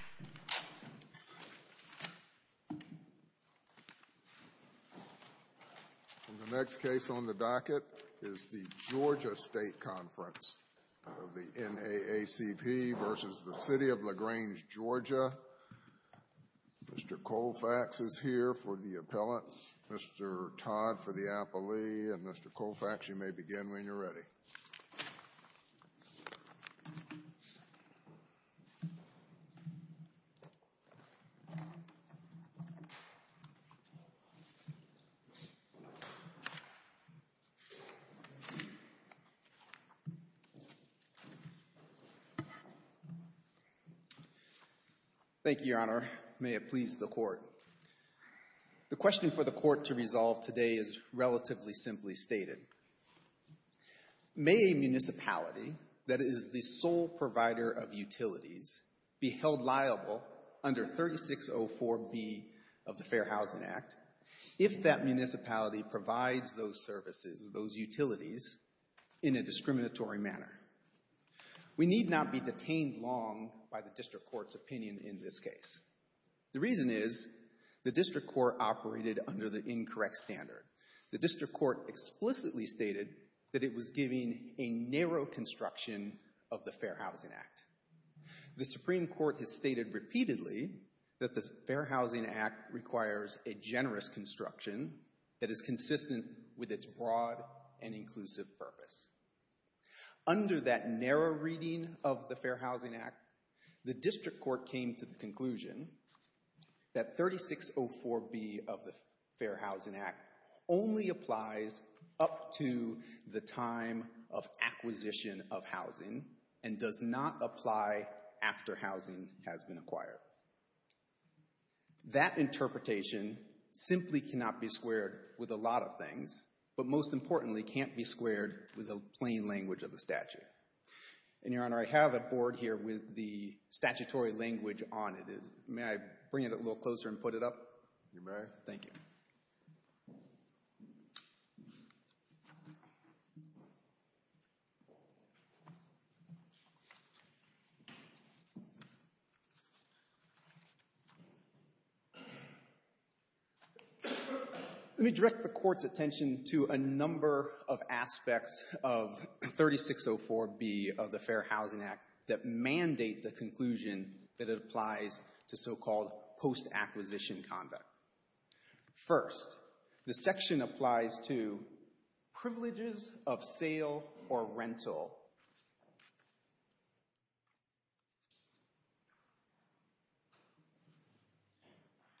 Mr. Koufax is here for the appellants, Mr. Todd for the appellee, and Mr. Koufax, you Thank you, Your Honor. May it please the court. The question for the court to resolve today is relatively simply stated. May a municipality that is the sole provider of utilities be held liable under 3604B of the Fair Housing Act if that municipality provides those services, those utilities, in a discriminatory manner? We need not be detained long by the district court's opinion in this case. The reason is the district court operated under the incorrect standard. The district court explicitly stated that it was giving a narrow construction of the Fair Housing Act. The Supreme Court has stated repeatedly that the Fair Housing Act requires a generous construction that is consistent with its broad and inclusive purpose. Under that narrow reading of the Fair Housing Act, the district court came to the conclusion that 3604B of the Fair Housing Act only applies up to the time of acquisition of housing and does not apply after housing has been acquired. That interpretation simply cannot be squared with a lot of things, but most importantly can't be squared with the plain language of the statute. And, Your Honor, I have a board here with the statutory language on it. May I bring it a little closer and put it up? You may. Thank you. Let me direct the court's attention to a number of aspects of 3604B of the Fair Housing Act that mandate the conclusion that it applies to so-called post-acquisition conduct. First, the section applies to privileges of sale or rental.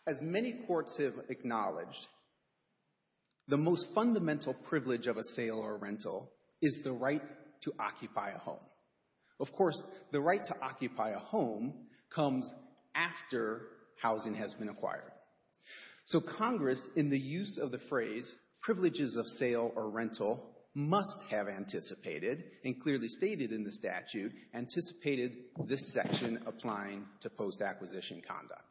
As many courts have acknowledged, the most fundamental privilege of a sale or rental is the right to occupy a home. Of course, the right to occupy a home comes after housing has been acquired. So Congress, in the use of the phrase, privileges of sale or rental, must have anticipated and clearly stated in the statute, anticipated this section applying to post-acquisition conduct.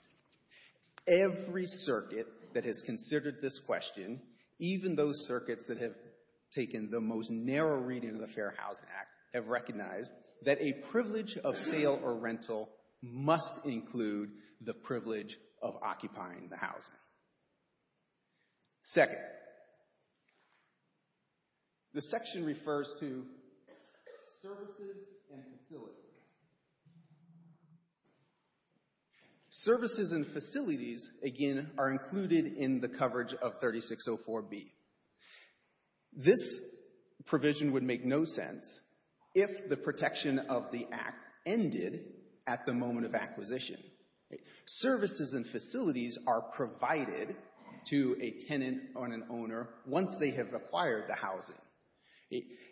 Every circuit that has considered this question, even those circuits that have taken the most narrow reading of the Fair Housing Act, have recognized that a privilege of sale or rental must include the privilege of occupying the housing. Second, the section refers to services and facilities. Services and facilities, again, are included in the coverage of 3604B. This provision would make no sense if the protection of the Act ended at the moment of acquisition. Services and facilities are provided to a tenant or an owner once they have acquired the housing.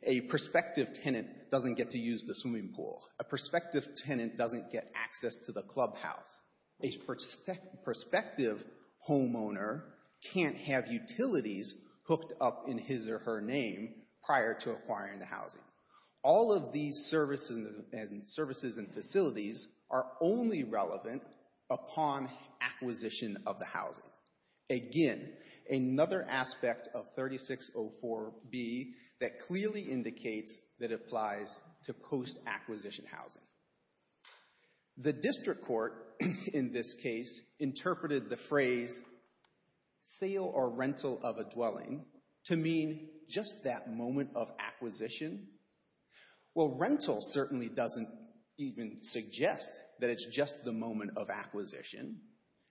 A prospective tenant doesn't get to use the swimming pool. A prospective tenant doesn't get access to the clubhouse. A prospective homeowner can't have utilities hooked up in his or her name prior to acquiring the housing. All of these services and facilities are only relevant upon acquisition of the housing. Again, another aspect of 3604B that clearly indicates that it applies to post-acquisition housing. The district court, in this case, interpreted the phrase, sale or rental of a dwelling, to mean just that moment of acquisition. Well, rental certainly doesn't even suggest that it's just the moment of acquisition.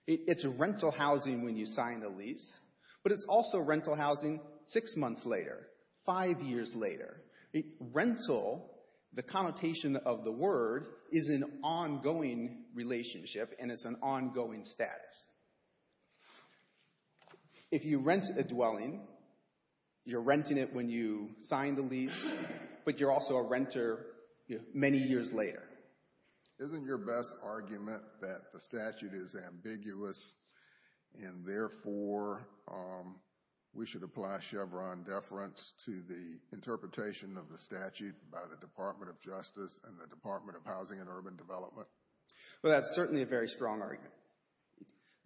It's rental housing when you sign the lease, but it's also rental housing six months later, five years later. Rental, the connotation of the word, is an ongoing status. If you rent a dwelling, you're renting it when you sign the lease, but you're also a renter many years later. Isn't your best argument that the statute is ambiguous and therefore we should apply Chevron deference to the interpretation of the statute by the Department of Justice and the Department of Housing and Urban Development?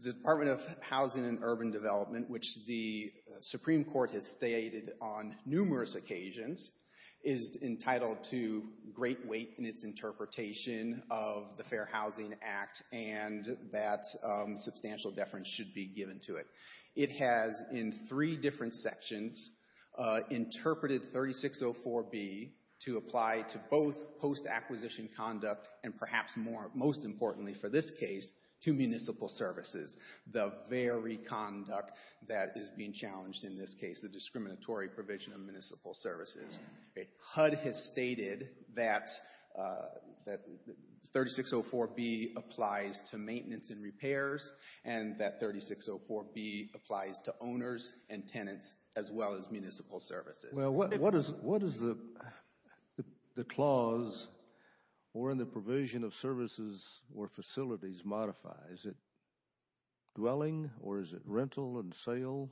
The Department of Housing and Urban Development, which the Supreme Court has stated on numerous occasions, is entitled to great weight in its interpretation of the Fair Housing Act and that substantial deference should be given to it. It has, in three different sections, interpreted 3604B to apply to both post-acquisition conduct and perhaps most importantly for this case, to municipal services, the very conduct that is being challenged in this case, the discriminatory provision of municipal services. HUD has stated that 3604B applies to maintenance and repairs and that 3604B applies to owners and tenants as well as municipal services. Well, what does the clause or in the provision of services or facilities modify? Is it dwelling or is it rental and sale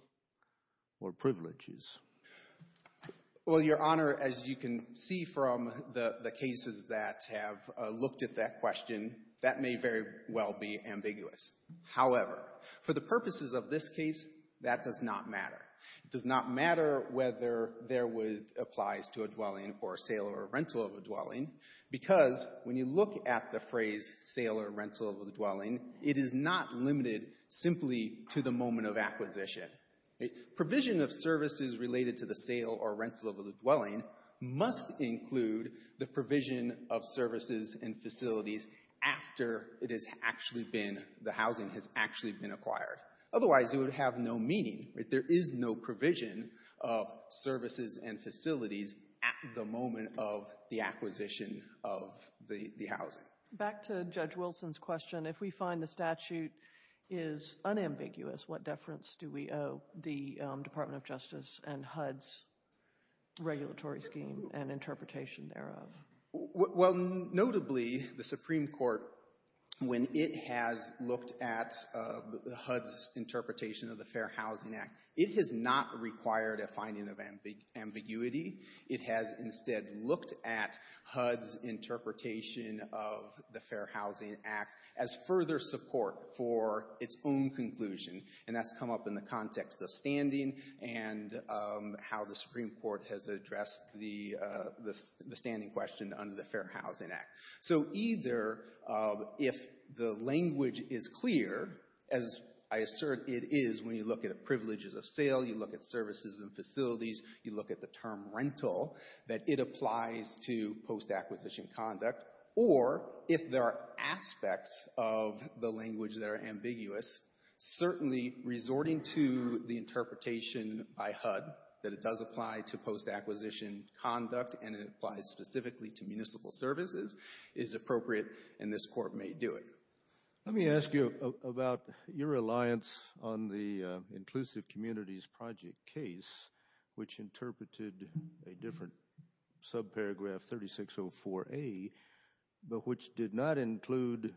or privileges? Well, Your Honor, as you can see from the cases that have looked at that question, that may very well be ambiguous. However, for the case where HUD applies to a dwelling or sale or rental of a dwelling, because when you look at the phrase sale or rental of a dwelling, it is not limited simply to the moment of acquisition. Provision of services related to the sale or rental of a dwelling must include the provision of services and facilities after it has actually been, the housing has actually been acquired. Otherwise, it would have no meaning. There is no provision of services and facilities at the moment of the acquisition of the housing. Back to Judge Wilson's question, if we find the statute is unambiguous, what deference do we owe the Department of Justice and HUD's regulatory scheme and interpretation thereof? Well, notably, the Supreme Court, when it has looked at HUD's interpretation of the Fair Housing Act, it has not required a finding of ambiguity. It has instead looked at HUD's interpretation of the Fair Housing Act as further support for its own conclusion. And that's come up in the context of standing and how the Supreme Court has addressed the standing question under the Fair Housing Act. So either if the language is clear, as I assert it is when you look at privileges of sale, you look at services and facilities, you look at the term rental, that it applies to post-acquisition conduct, or if there are aspects of the language that are ambiguous, certainly resorting to the interpretation by HUD that it does apply to post-acquisition conduct and it applies specifically to municipal services is appropriate and this Court may do it. Let me ask you about your reliance on the Inclusive Communities Project case, which interpreted a different subparagraph, 3604A, but which did not include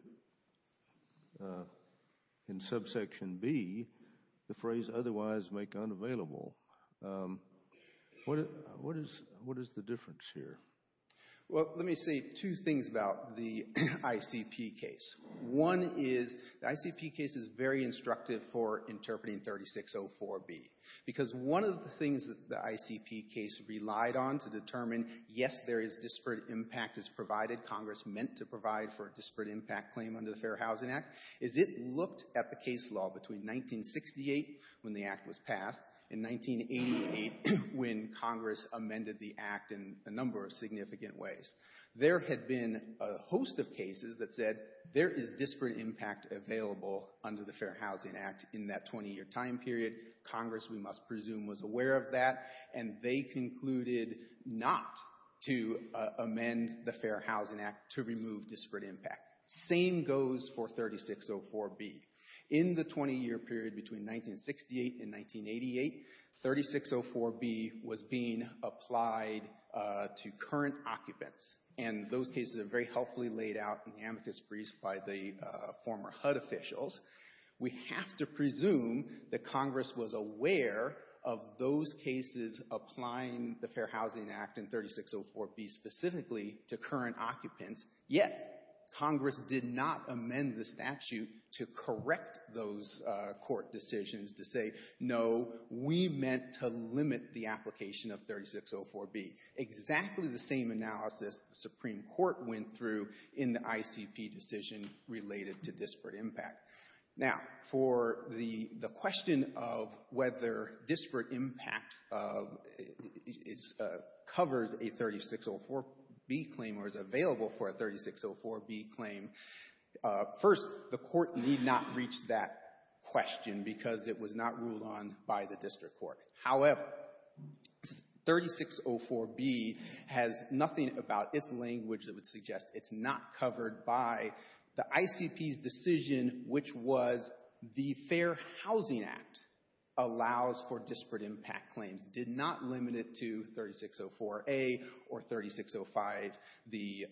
in subsection B the phrase, otherwise make unavailable. What is the difference here? Well, let me say two things about the ICP case. One is the ICP case is very instructive for interpreting 3604B because one of the things that the ICP case relied on to determine, yes, there is disparate impact as provided, Congress meant to provide for a disparate impact claim under the Fair Housing Act, is it looked at the case law between 1968 when the Act was passed and 1988 when Congress amended the Act in a number of significant ways. There had been a host of cases that said there is disparate impact available under the Fair Housing Act in that 20-year time period. Congress, we must presume, was aware of that and they concluded not to amend the Fair Housing Act to remove disparate impact. Same goes for 3604B. In the 20-year period between 1968 and 1988, 3604B was being applied to current occupants and those that Congress was aware of those cases applying the Fair Housing Act and 3604B specifically to current occupants, yet Congress did not amend the statute to correct those court decisions to say, no, we meant to limit the application of 3604B. Exactly the same analysis the Supreme Court went through in the ICP decision related to disparate impact. Now, for the question of whether disparate impact covers a 3604B claim or is available for a 3604B claim, first, the Court need not reach that question because it was not ruled on by the district court. However, 3604B has nothing about its language that would suggest it's not covered by the ICP's decision, which was the Fair Housing Act allows for disparate impact claims, did not limit it to 3604A or 3605, the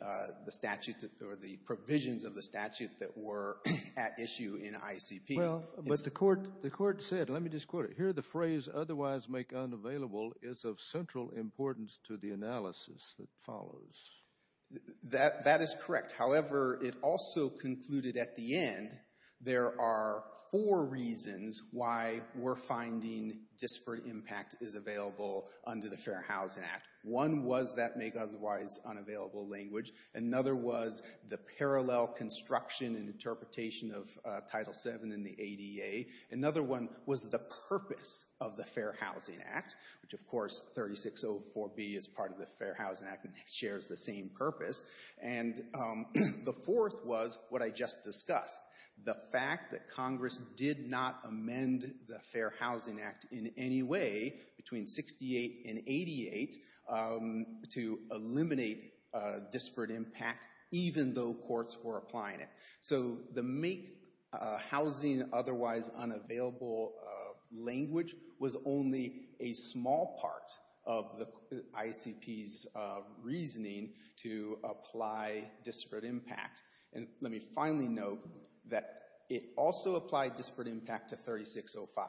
provisions of the statute that were at issue in ICP. Well, but the Court said, let me just quote it, here the phrase otherwise make unavailable is of central importance to the analysis that follows. That is correct. However, it also concluded at the end there are four reasons why we're finding disparate impact is available under the Fair Housing Act. One was that make otherwise unavailable language. Another was the parallel construction and interpretation of Title VII in the ADA. Another one was the purpose of the Fair Housing Act, which, of course, 3604B is part of the Fair Housing Act and shares the same purpose. And the fourth was what I just discussed, the fact that Congress did not amend the Fair Housing Act in any way between 68 and 88 to eliminate disparate impact, even though courts were applying it. So the make housing otherwise unavailable language was only a small part of the ICP's reasoning to apply disparate impact. And let me finally note that it also applied disparate impact to 3605.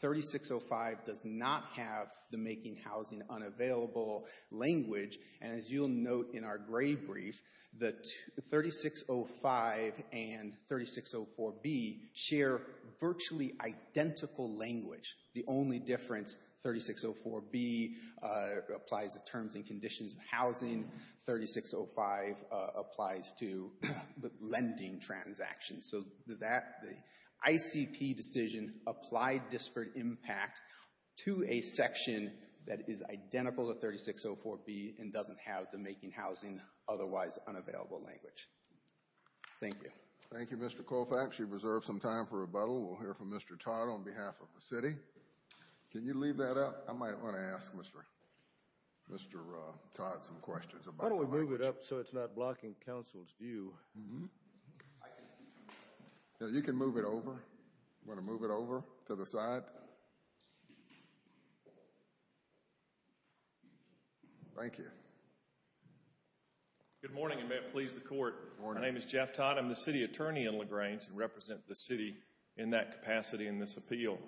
3605 does not have the making housing unavailable language. And as you'll note in our gray brief, that 3605 and 3604B share virtually identical language. The only difference, 3604B applies to terms and conditions of housing. 3605 applies to lending transactions. So that ICP decision applied disparate impact to a section that is identical to 3604B and doesn't have the making housing otherwise unavailable language. Thank you. Thank you, Mr. Colfax. You've reserved some time for rebuttal. We'll hear from Mr. Todd on behalf of the city. Can you leave that up? I might want to ask Mr. Todd some questions about the language. Why don't we move it up so it's not blocking counsel's view? You can move it over. Want to move it over to the side? Thank you. Good morning, and may it please the court. My name is Jeff Todd. I'm the city attorney in LaGrange and represent the city in that capacity in this appeal.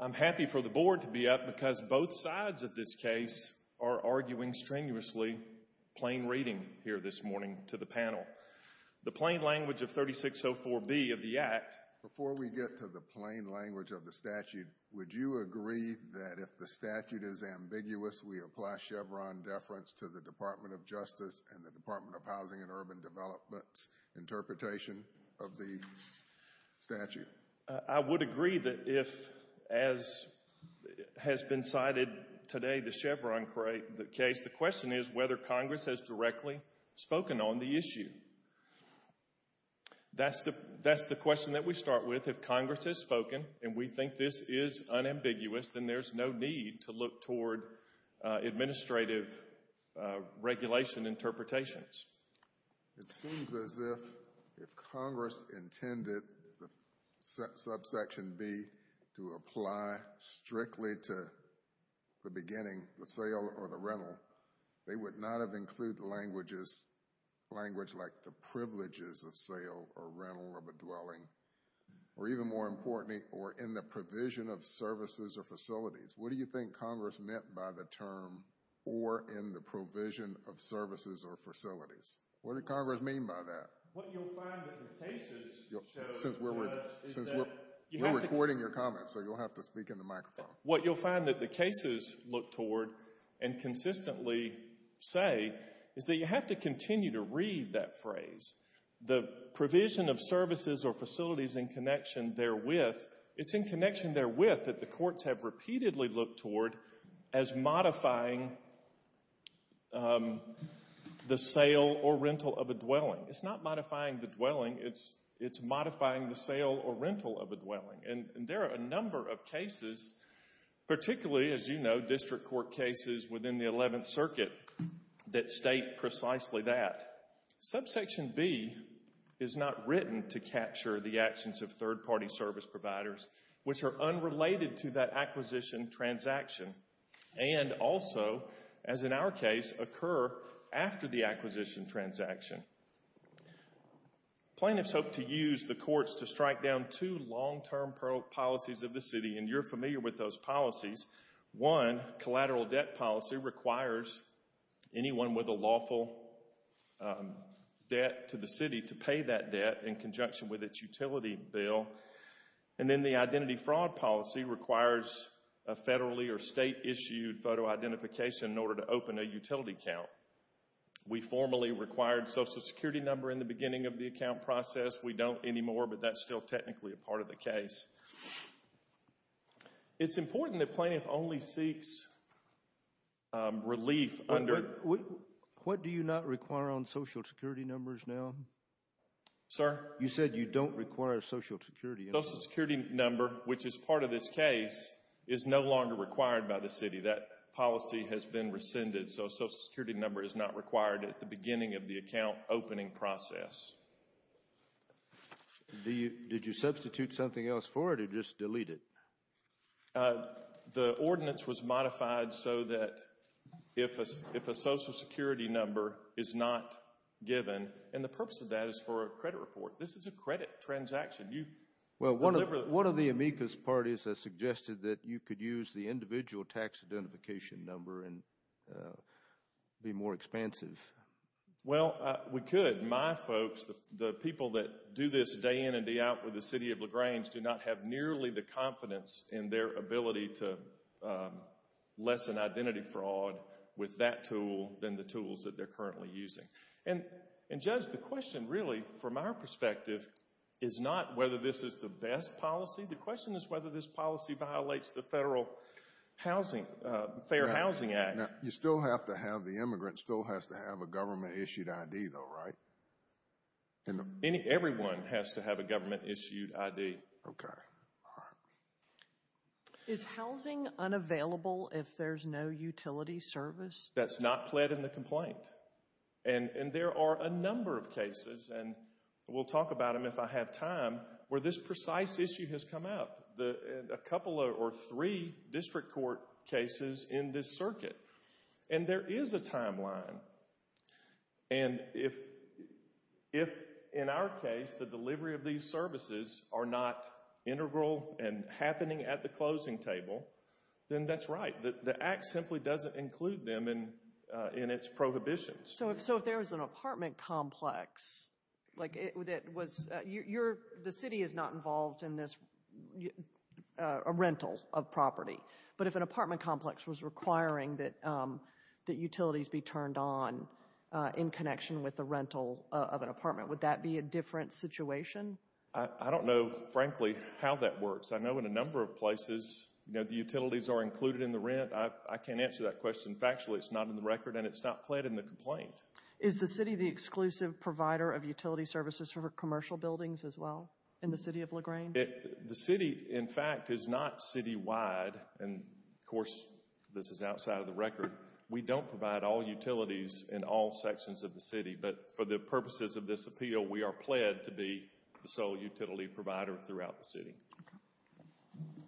I'm happy for the board to be up because both sides of this case are arguing strenuously plain reading here this morning to the panel. The plain language of 3604B of the act... ...to the Department of Justice and the Department of Housing and Urban Development's interpretation of the statute. I would agree that if, as has been cited today, the Chevron case, the question is whether Congress has directly spoken on the issue. That's the question that we start with. If Congress has spoken and we think this is unambiguous, then there's no need to look toward administrative regulation interpretations. It seems as if if Congress intended the subsection B to apply strictly to the beginning, the sale or the rental, they would not have included language like the privileges of sale or rental of a dwelling, or even more importantly, or in the provision of services or facilities. What do you think Congress meant by the term or in the provision of services or facilities? What did Congress mean by that? What you'll find that the cases show, Judge, is that you have to... We're recording your comments, so you'll have to speak in the microphone. What you'll find that the cases look toward and consistently say is that you have to continue to read that phrase. The provision of services or facilities in connection therewith, it's in connection therewith that the courts have repeatedly looked toward as modifying the sale or rental of a dwelling. It's not modifying the dwelling, it's modifying the sale or rental of a dwelling. And there are a number of cases, particularly, as you know, district court cases within the 11th Circuit that state precisely that. Subsection B is not written to capture the actions of third-party service providers, which are unrelated to that acquisition transaction, and also, as in our case, occur after the acquisition transaction. Plaintiffs hope to use the courts to strike down two long-term policies of the city, and you're familiar with those policies. One, collateral debt policy, requires anyone with a lawful debt to the city to pay that debt in conjunction with its utility bill. And then the identity fraud policy requires a federally or state-issued photo identification in order to open a utility account. We formally required social security number in the beginning of the account process. We don't anymore, but that's still technically a part of the case. It's important that plaintiff only seeks relief under... What do you not require on social security numbers now? Sir? You said you don't require social security. Social security number, which is part of this case, is no longer required by the city. That policy has been rescinded. So social security number is not required at the beginning of the account opening process. Do you, did you substitute something else for it, or just delete it? The ordinance was modified so that if a social security number is not given, and the purpose of that is for a credit report. This is a credit transaction. You... Well, one of the amicus parties has suggested that you could use the individual tax identification number and be more expansive. Well, we could. My folks, the people that do this day in and day out with the city of LaGrange, do not have nearly the confidence in their ability to lessen identity fraud with that tool than the tools that they're currently using. Judge, the question really, from our perspective, is not whether this is the best policy. The question is whether this policy violates the federal housing, Fair Housing Act. You still have to have, the immigrant still has to have a government issued ID though, right? And any, everyone has to have a government issued ID. Okay, all right. Is housing unavailable if there's no utility service? That's not pled in the complaint. And there are a number of cases, and we'll talk about them if I have time, where this precise issue has come up. The, a couple or three district court cases in this circuit. And there is a timeline. And if, in our case, the delivery of these services are not integral and happening at the closing table, then that's right. The act simply doesn't include them in its prohibitions. So if there was an apartment complex, like it was, you're, the city is not involved in this rental of property. But if an apartment complex was requiring that, that utilities be turned on in connection with the rental of an apartment, would that be a different situation? I don't know, frankly, how that works. I know in a number of places, you know, the utilities are included in the rent. I can't answer that question factually. It's not in the record and it's not pled in the complaint. Is the city the exclusive provider of utility services for commercial buildings as well in the city of LaGrange? The city, in fact, is not citywide. And of course, this is outside of the record. We don't provide all utilities in all sections of the city. But for the purposes of this appeal, we are pled to be the sole utility provider throughout the city.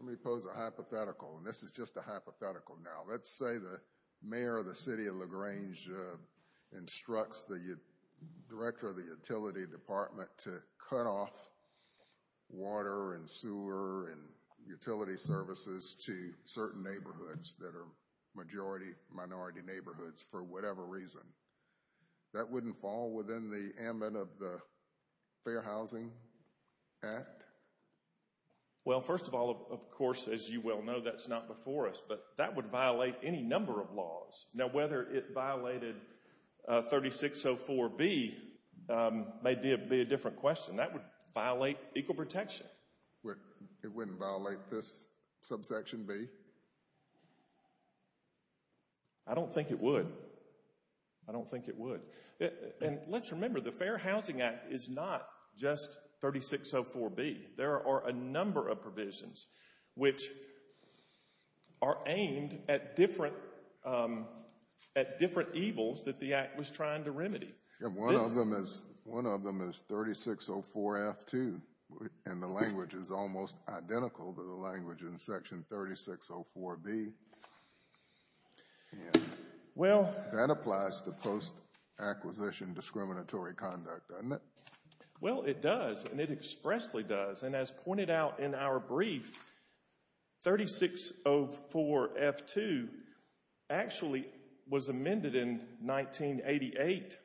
Let me pose a hypothetical. And this is just a hypothetical now. Let's say the mayor of the city of LaGrange instructs the director of the utility department to cut off water and sewer and utility services to certain neighborhoods that are majority, minority neighborhoods for whatever reason. That wouldn't fall within the amendment of the Fair Housing Act? Well, first of all, of course, as you well know, that's not before us. But that would violate any number of laws. Now, whether it violated 3604B may be a different question. That would violate equal protection. It wouldn't violate this subsection B? I don't think it would. I don't think it would. And let's remember, the Fair Housing Act is not just 3604B. There are a number of provisions which are aimed at different evils that the Act was trying to remedy. One of them is 3604F2, and the language is almost identical to the language in section 3604B. That applies to post-acquisition discriminatory conduct, doesn't it? Well, it does, and it expressly does. And as pointed out in our brief, 3604F2 actually was amended in 1988,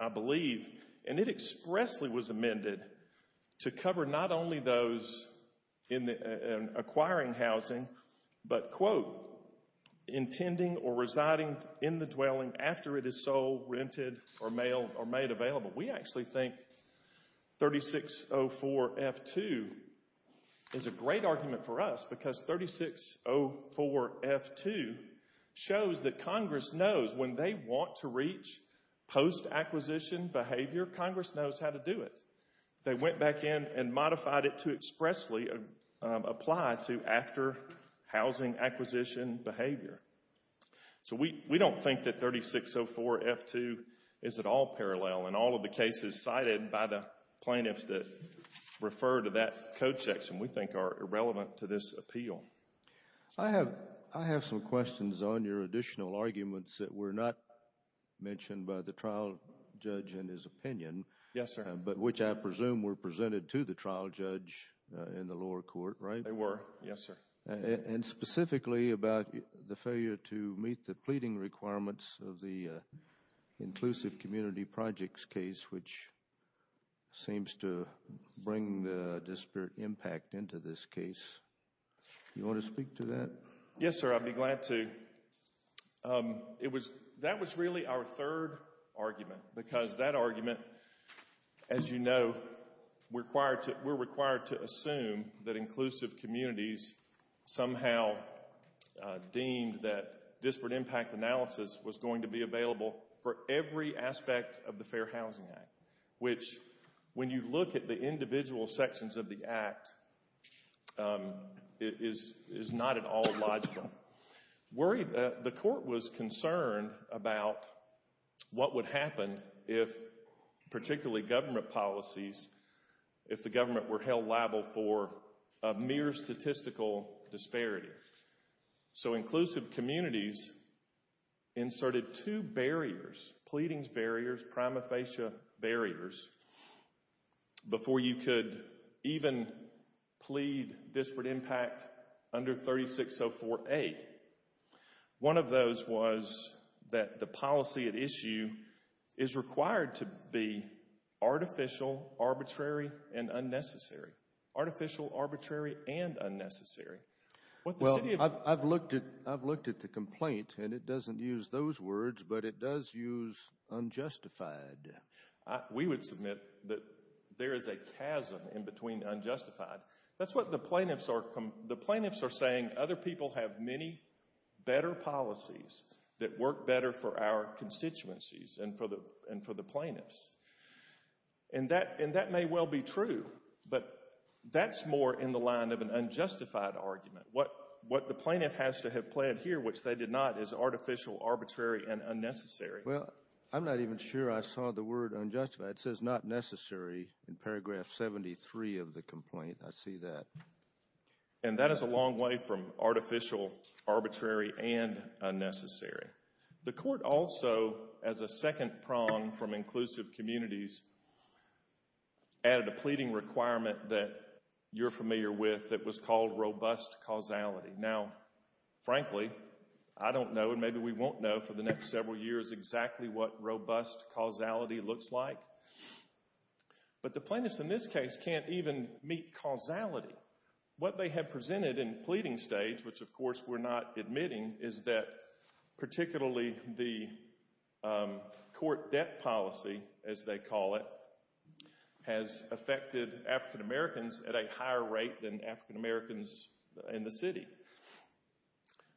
I believe, and it expressly was amended to cover not only those acquiring housing, but, quote, intending or residing in the dwelling after it is sold, rented, or made available. We actually think 3604F2 is a great argument for us because 3604F2 shows that Congress knows when they want to reach post-acquisition behavior, Congress knows how to do it. They went back in and modified it to expressly apply to after-housing acquisition behavior. So we don't think that 3604F2 is at all parallel in all of the cases cited by the plaintiffs that refer to that code section. We think are irrelevant to this appeal. I have some questions on your additional arguments that were not mentioned by the trial judge in his opinion. Yes, sir. But which I presume were presented to the trial judge in the lower court, right? They were, yes, sir. And specifically about the failure to meet the pleading requirements of the Inclusive Community Projects case, which seems to bring the disparate impact into this case. You want to speak to that? Yes, sir. I'd be glad to. It was, that was really our third argument because that argument, as you know, we're required to assume that inclusive communities somehow deemed that disparate impact analysis was going to be available for every aspect of the Fair Housing Act, which when you look at the individual sections of the act, it is not at all logical. The court was concerned about what would happen if particularly government policies, if the government were held liable for a mere statistical disparity. So inclusive communities inserted two barriers, pleadings barriers, prima facie barriers, before you could even plead disparate impact under 3604A. One of those was that the policy at issue is required to be artificial, arbitrary, and unnecessary. Artificial, arbitrary, and unnecessary. Well, I've looked at the complaint, and it doesn't use those words, but it does use unjustified. We would submit that there is a chasm in between unjustified. That's what the plaintiffs are saying. Other people have many better policies that work better for our constituencies and for the plaintiffs. And that may well be true, but that's more in the line of an unjustified argument. What the plaintiff has to have pled here, which they did not, is artificial, arbitrary, and unnecessary. Well, I'm not even sure I saw the word unjustified. It says not necessary in paragraph 73 of the complaint. I see that. And that is a long way from artificial, arbitrary, and unnecessary. The court also, as a second prong from inclusive communities, added a pleading requirement that you're familiar with that was called robust causality. Now, frankly, I don't know, and maybe we won't know for the next several years exactly what robust causality looks like. But the plaintiffs in this case can't even meet causality. What they have presented in pleading stage, which, of course, we're not admitting, is that particularly the court debt policy, as they call it, has affected African-Americans at a higher rate than African-Americans in the city.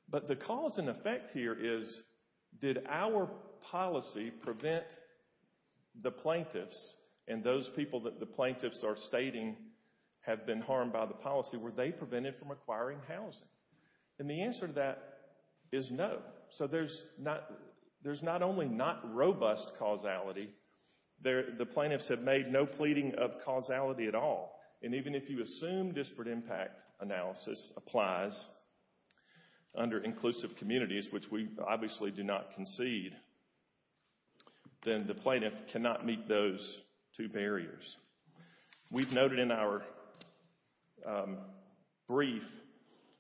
But the cause and effect here is, did our policy prevent the plaintiffs and those people that the plaintiffs are stating have been harmed by the policy, were they prevented from acquiring housing? And the answer to that is no. So there's not only not robust causality, the plaintiffs have made no pleading of causality at all. And even if you assume disparate impact analysis applies under inclusive communities, which we obviously do not concede, then the plaintiff cannot meet those two barriers. We've noted in our brief,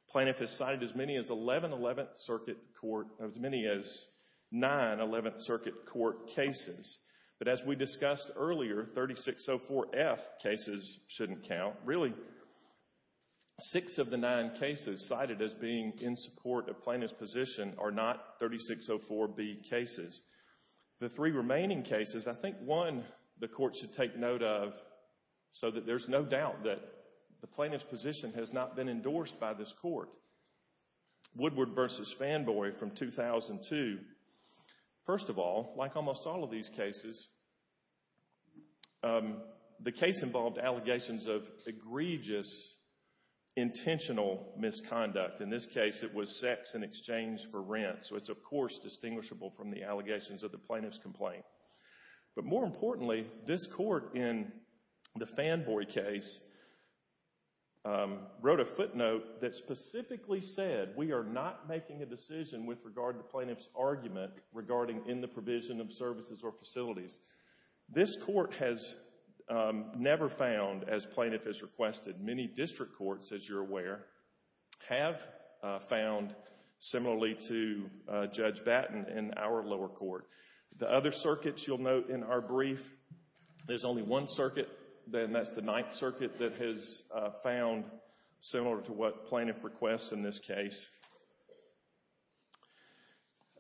plaintiff has cited as many as 1111th Circuit Court, as many as nine 11th Circuit Court cases. But as we discussed earlier, 3604F cases shouldn't count. Really, six of the nine cases cited as being in support of plaintiff's position are not 3604B cases. The three remaining cases, I think one the court should take note of so that there's no doubt that the plaintiff's position has not been endorsed by this court. Woodward v. Fanboy from 2002, first of all, like almost all of these cases, the case involved allegations of egregious intentional misconduct. In this case, it was sex in exchange for rent. So it's, of course, distinguishable from the allegations of the plaintiff's complaint. But more importantly, this court in the Fanboy case wrote a footnote that specifically said we are not making a decision with regard to plaintiff's argument regarding in the provision of services or facilities. This court has never found, as plaintiff has requested, many district courts, as you're aware, have found similarly to Judge Batten in our lower court. The other circuits you'll note in our brief, there's only one circuit, and that's the Ninth Circuit that has found similar to what plaintiff requests in this case.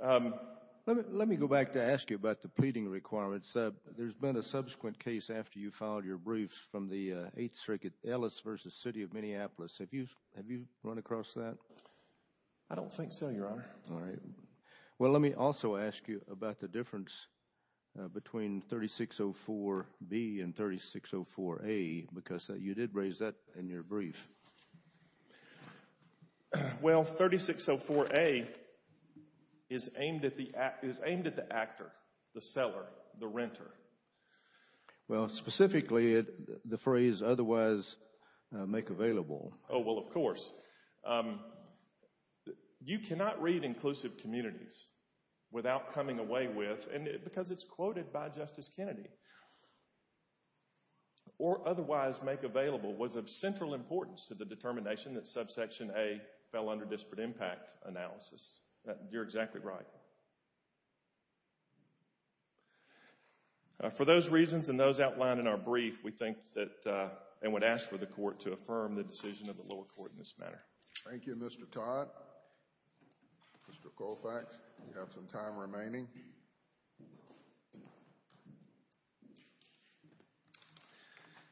Let me go back to ask you about the pleading requirements. There's been a subsequent case after you filed your briefs from the Eighth Circuit, Ellis v. City of Minneapolis. Have you run across that? I don't think so, Your Honor. All right. Well, let me also ask you about the difference between 3604B and 3604A because you did raise that in your brief. Well, 3604A is aimed at the actor, the seller, the renter. Well, specifically, the phrase, otherwise make available. Oh, well, of course. You cannot read inclusive communities without coming away with, and because it's quoted by Justice Kennedy, or otherwise make available was of central importance to the determination that subsection A fell under disparate impact analysis. You're exactly right. For those reasons and those outlined in our brief, we think that and would ask for the court to affirm the decision of the lower court in this manner. Thank you, Mr. Todd. Mr. Colfax, you have some time remaining.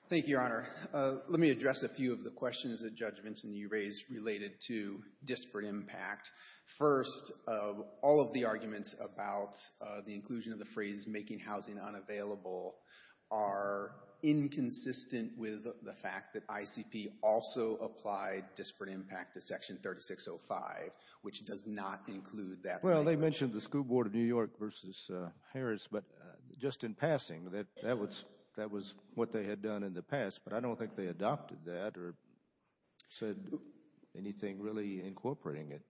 Thank you, Your Honor. Let me address a few of the questions that Judge Vincent, you raised related to disparate impact. First, all of the arguments about the inclusion of the phrase making housing unavailable are inconsistent with the fact that ICP also applied disparate impact to section 3605, which does not include that. Well, they mentioned the school board of New York versus Harris, but just in passing, that was what they had done in the past, but I don't think they adopted that or said anything really incorporating it.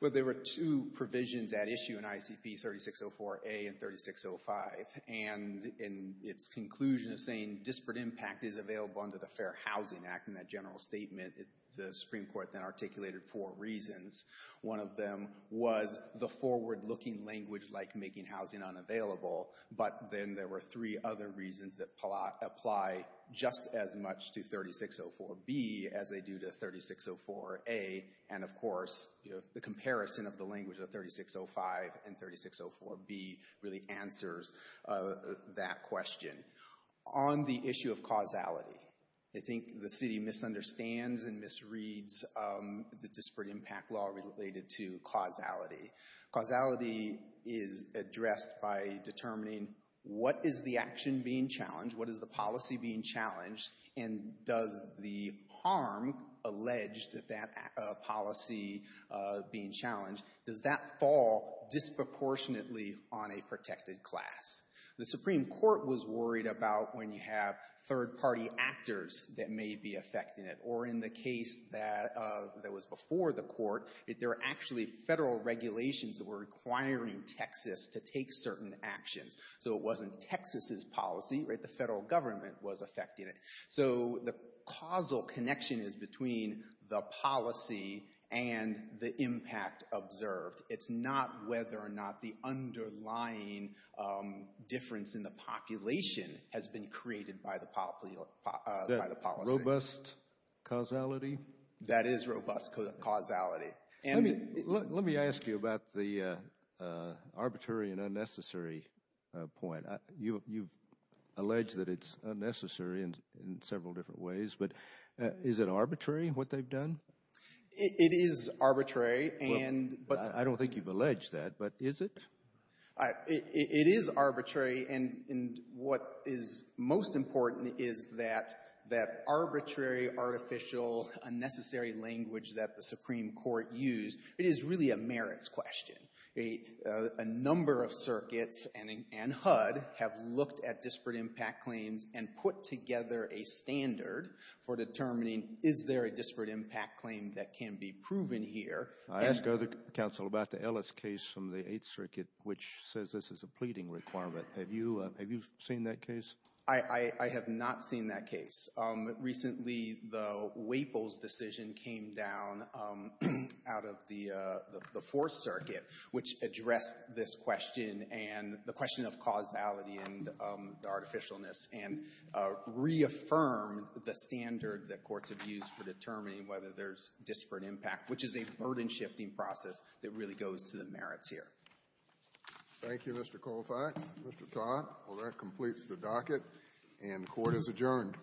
Well, there were two provisions at issue in ICP 3604A and 3605, and in its conclusion of saying disparate impact is available under the Fair Housing Act in that general statement, the Supreme Court then articulated four reasons. One of them was the forward-looking language like making housing unavailable, but then there were three other reasons that apply just as much to 3604B as they do to 3604A, and of course, the comparison of the language of 3605 and 3604B really answers that question. On the issue of causality, I think the city misunderstands and misreads the disparate impact law related to causality. Causality is addressed by determining what is the action being challenged, what is the policy being challenged. Does that fall disproportionately on a protected class? The Supreme Court was worried about when you have third-party actors that may be affecting it, or in the case that was before the court, there were actually federal regulations that were requiring Texas to take certain actions. So it wasn't Texas's policy, right? The federal government was affecting it. So the causal connection is between the policy and the impact observed. It's not whether or not the underlying difference in the population has been created by the policy. Robust causality? That is robust causality. Let me ask you about the arbitrary and unnecessary point. You've alleged that it's unnecessary in several different ways, but is it arbitrary, what they've done? It is arbitrary. I don't think you've alleged that, but is it? It is arbitrary, and what is most important is that arbitrary, artificial, unnecessary language that the Supreme Court used, it is really a merits question. A number of circuits and HUD have looked at disparate impact claims and put together a standard for determining, is there a disparate impact claim that can be proven here? I asked the other counsel about the Ellis case from the Eighth Circuit, which says this is a pleading requirement. Have you seen that case? I have not seen that case. Recently, the Waples decision came down out of the Fourth Circuit, which addressed this question and the question of causality and the artificialness, and reaffirmed the standard that courts have used for determining whether there's disparate impact, which is a burden-shifting process that really goes to the merits here. Thank you, Mr. Colfax. Mr. Todd, well, that completes the docket, and court is adjourned. All rise.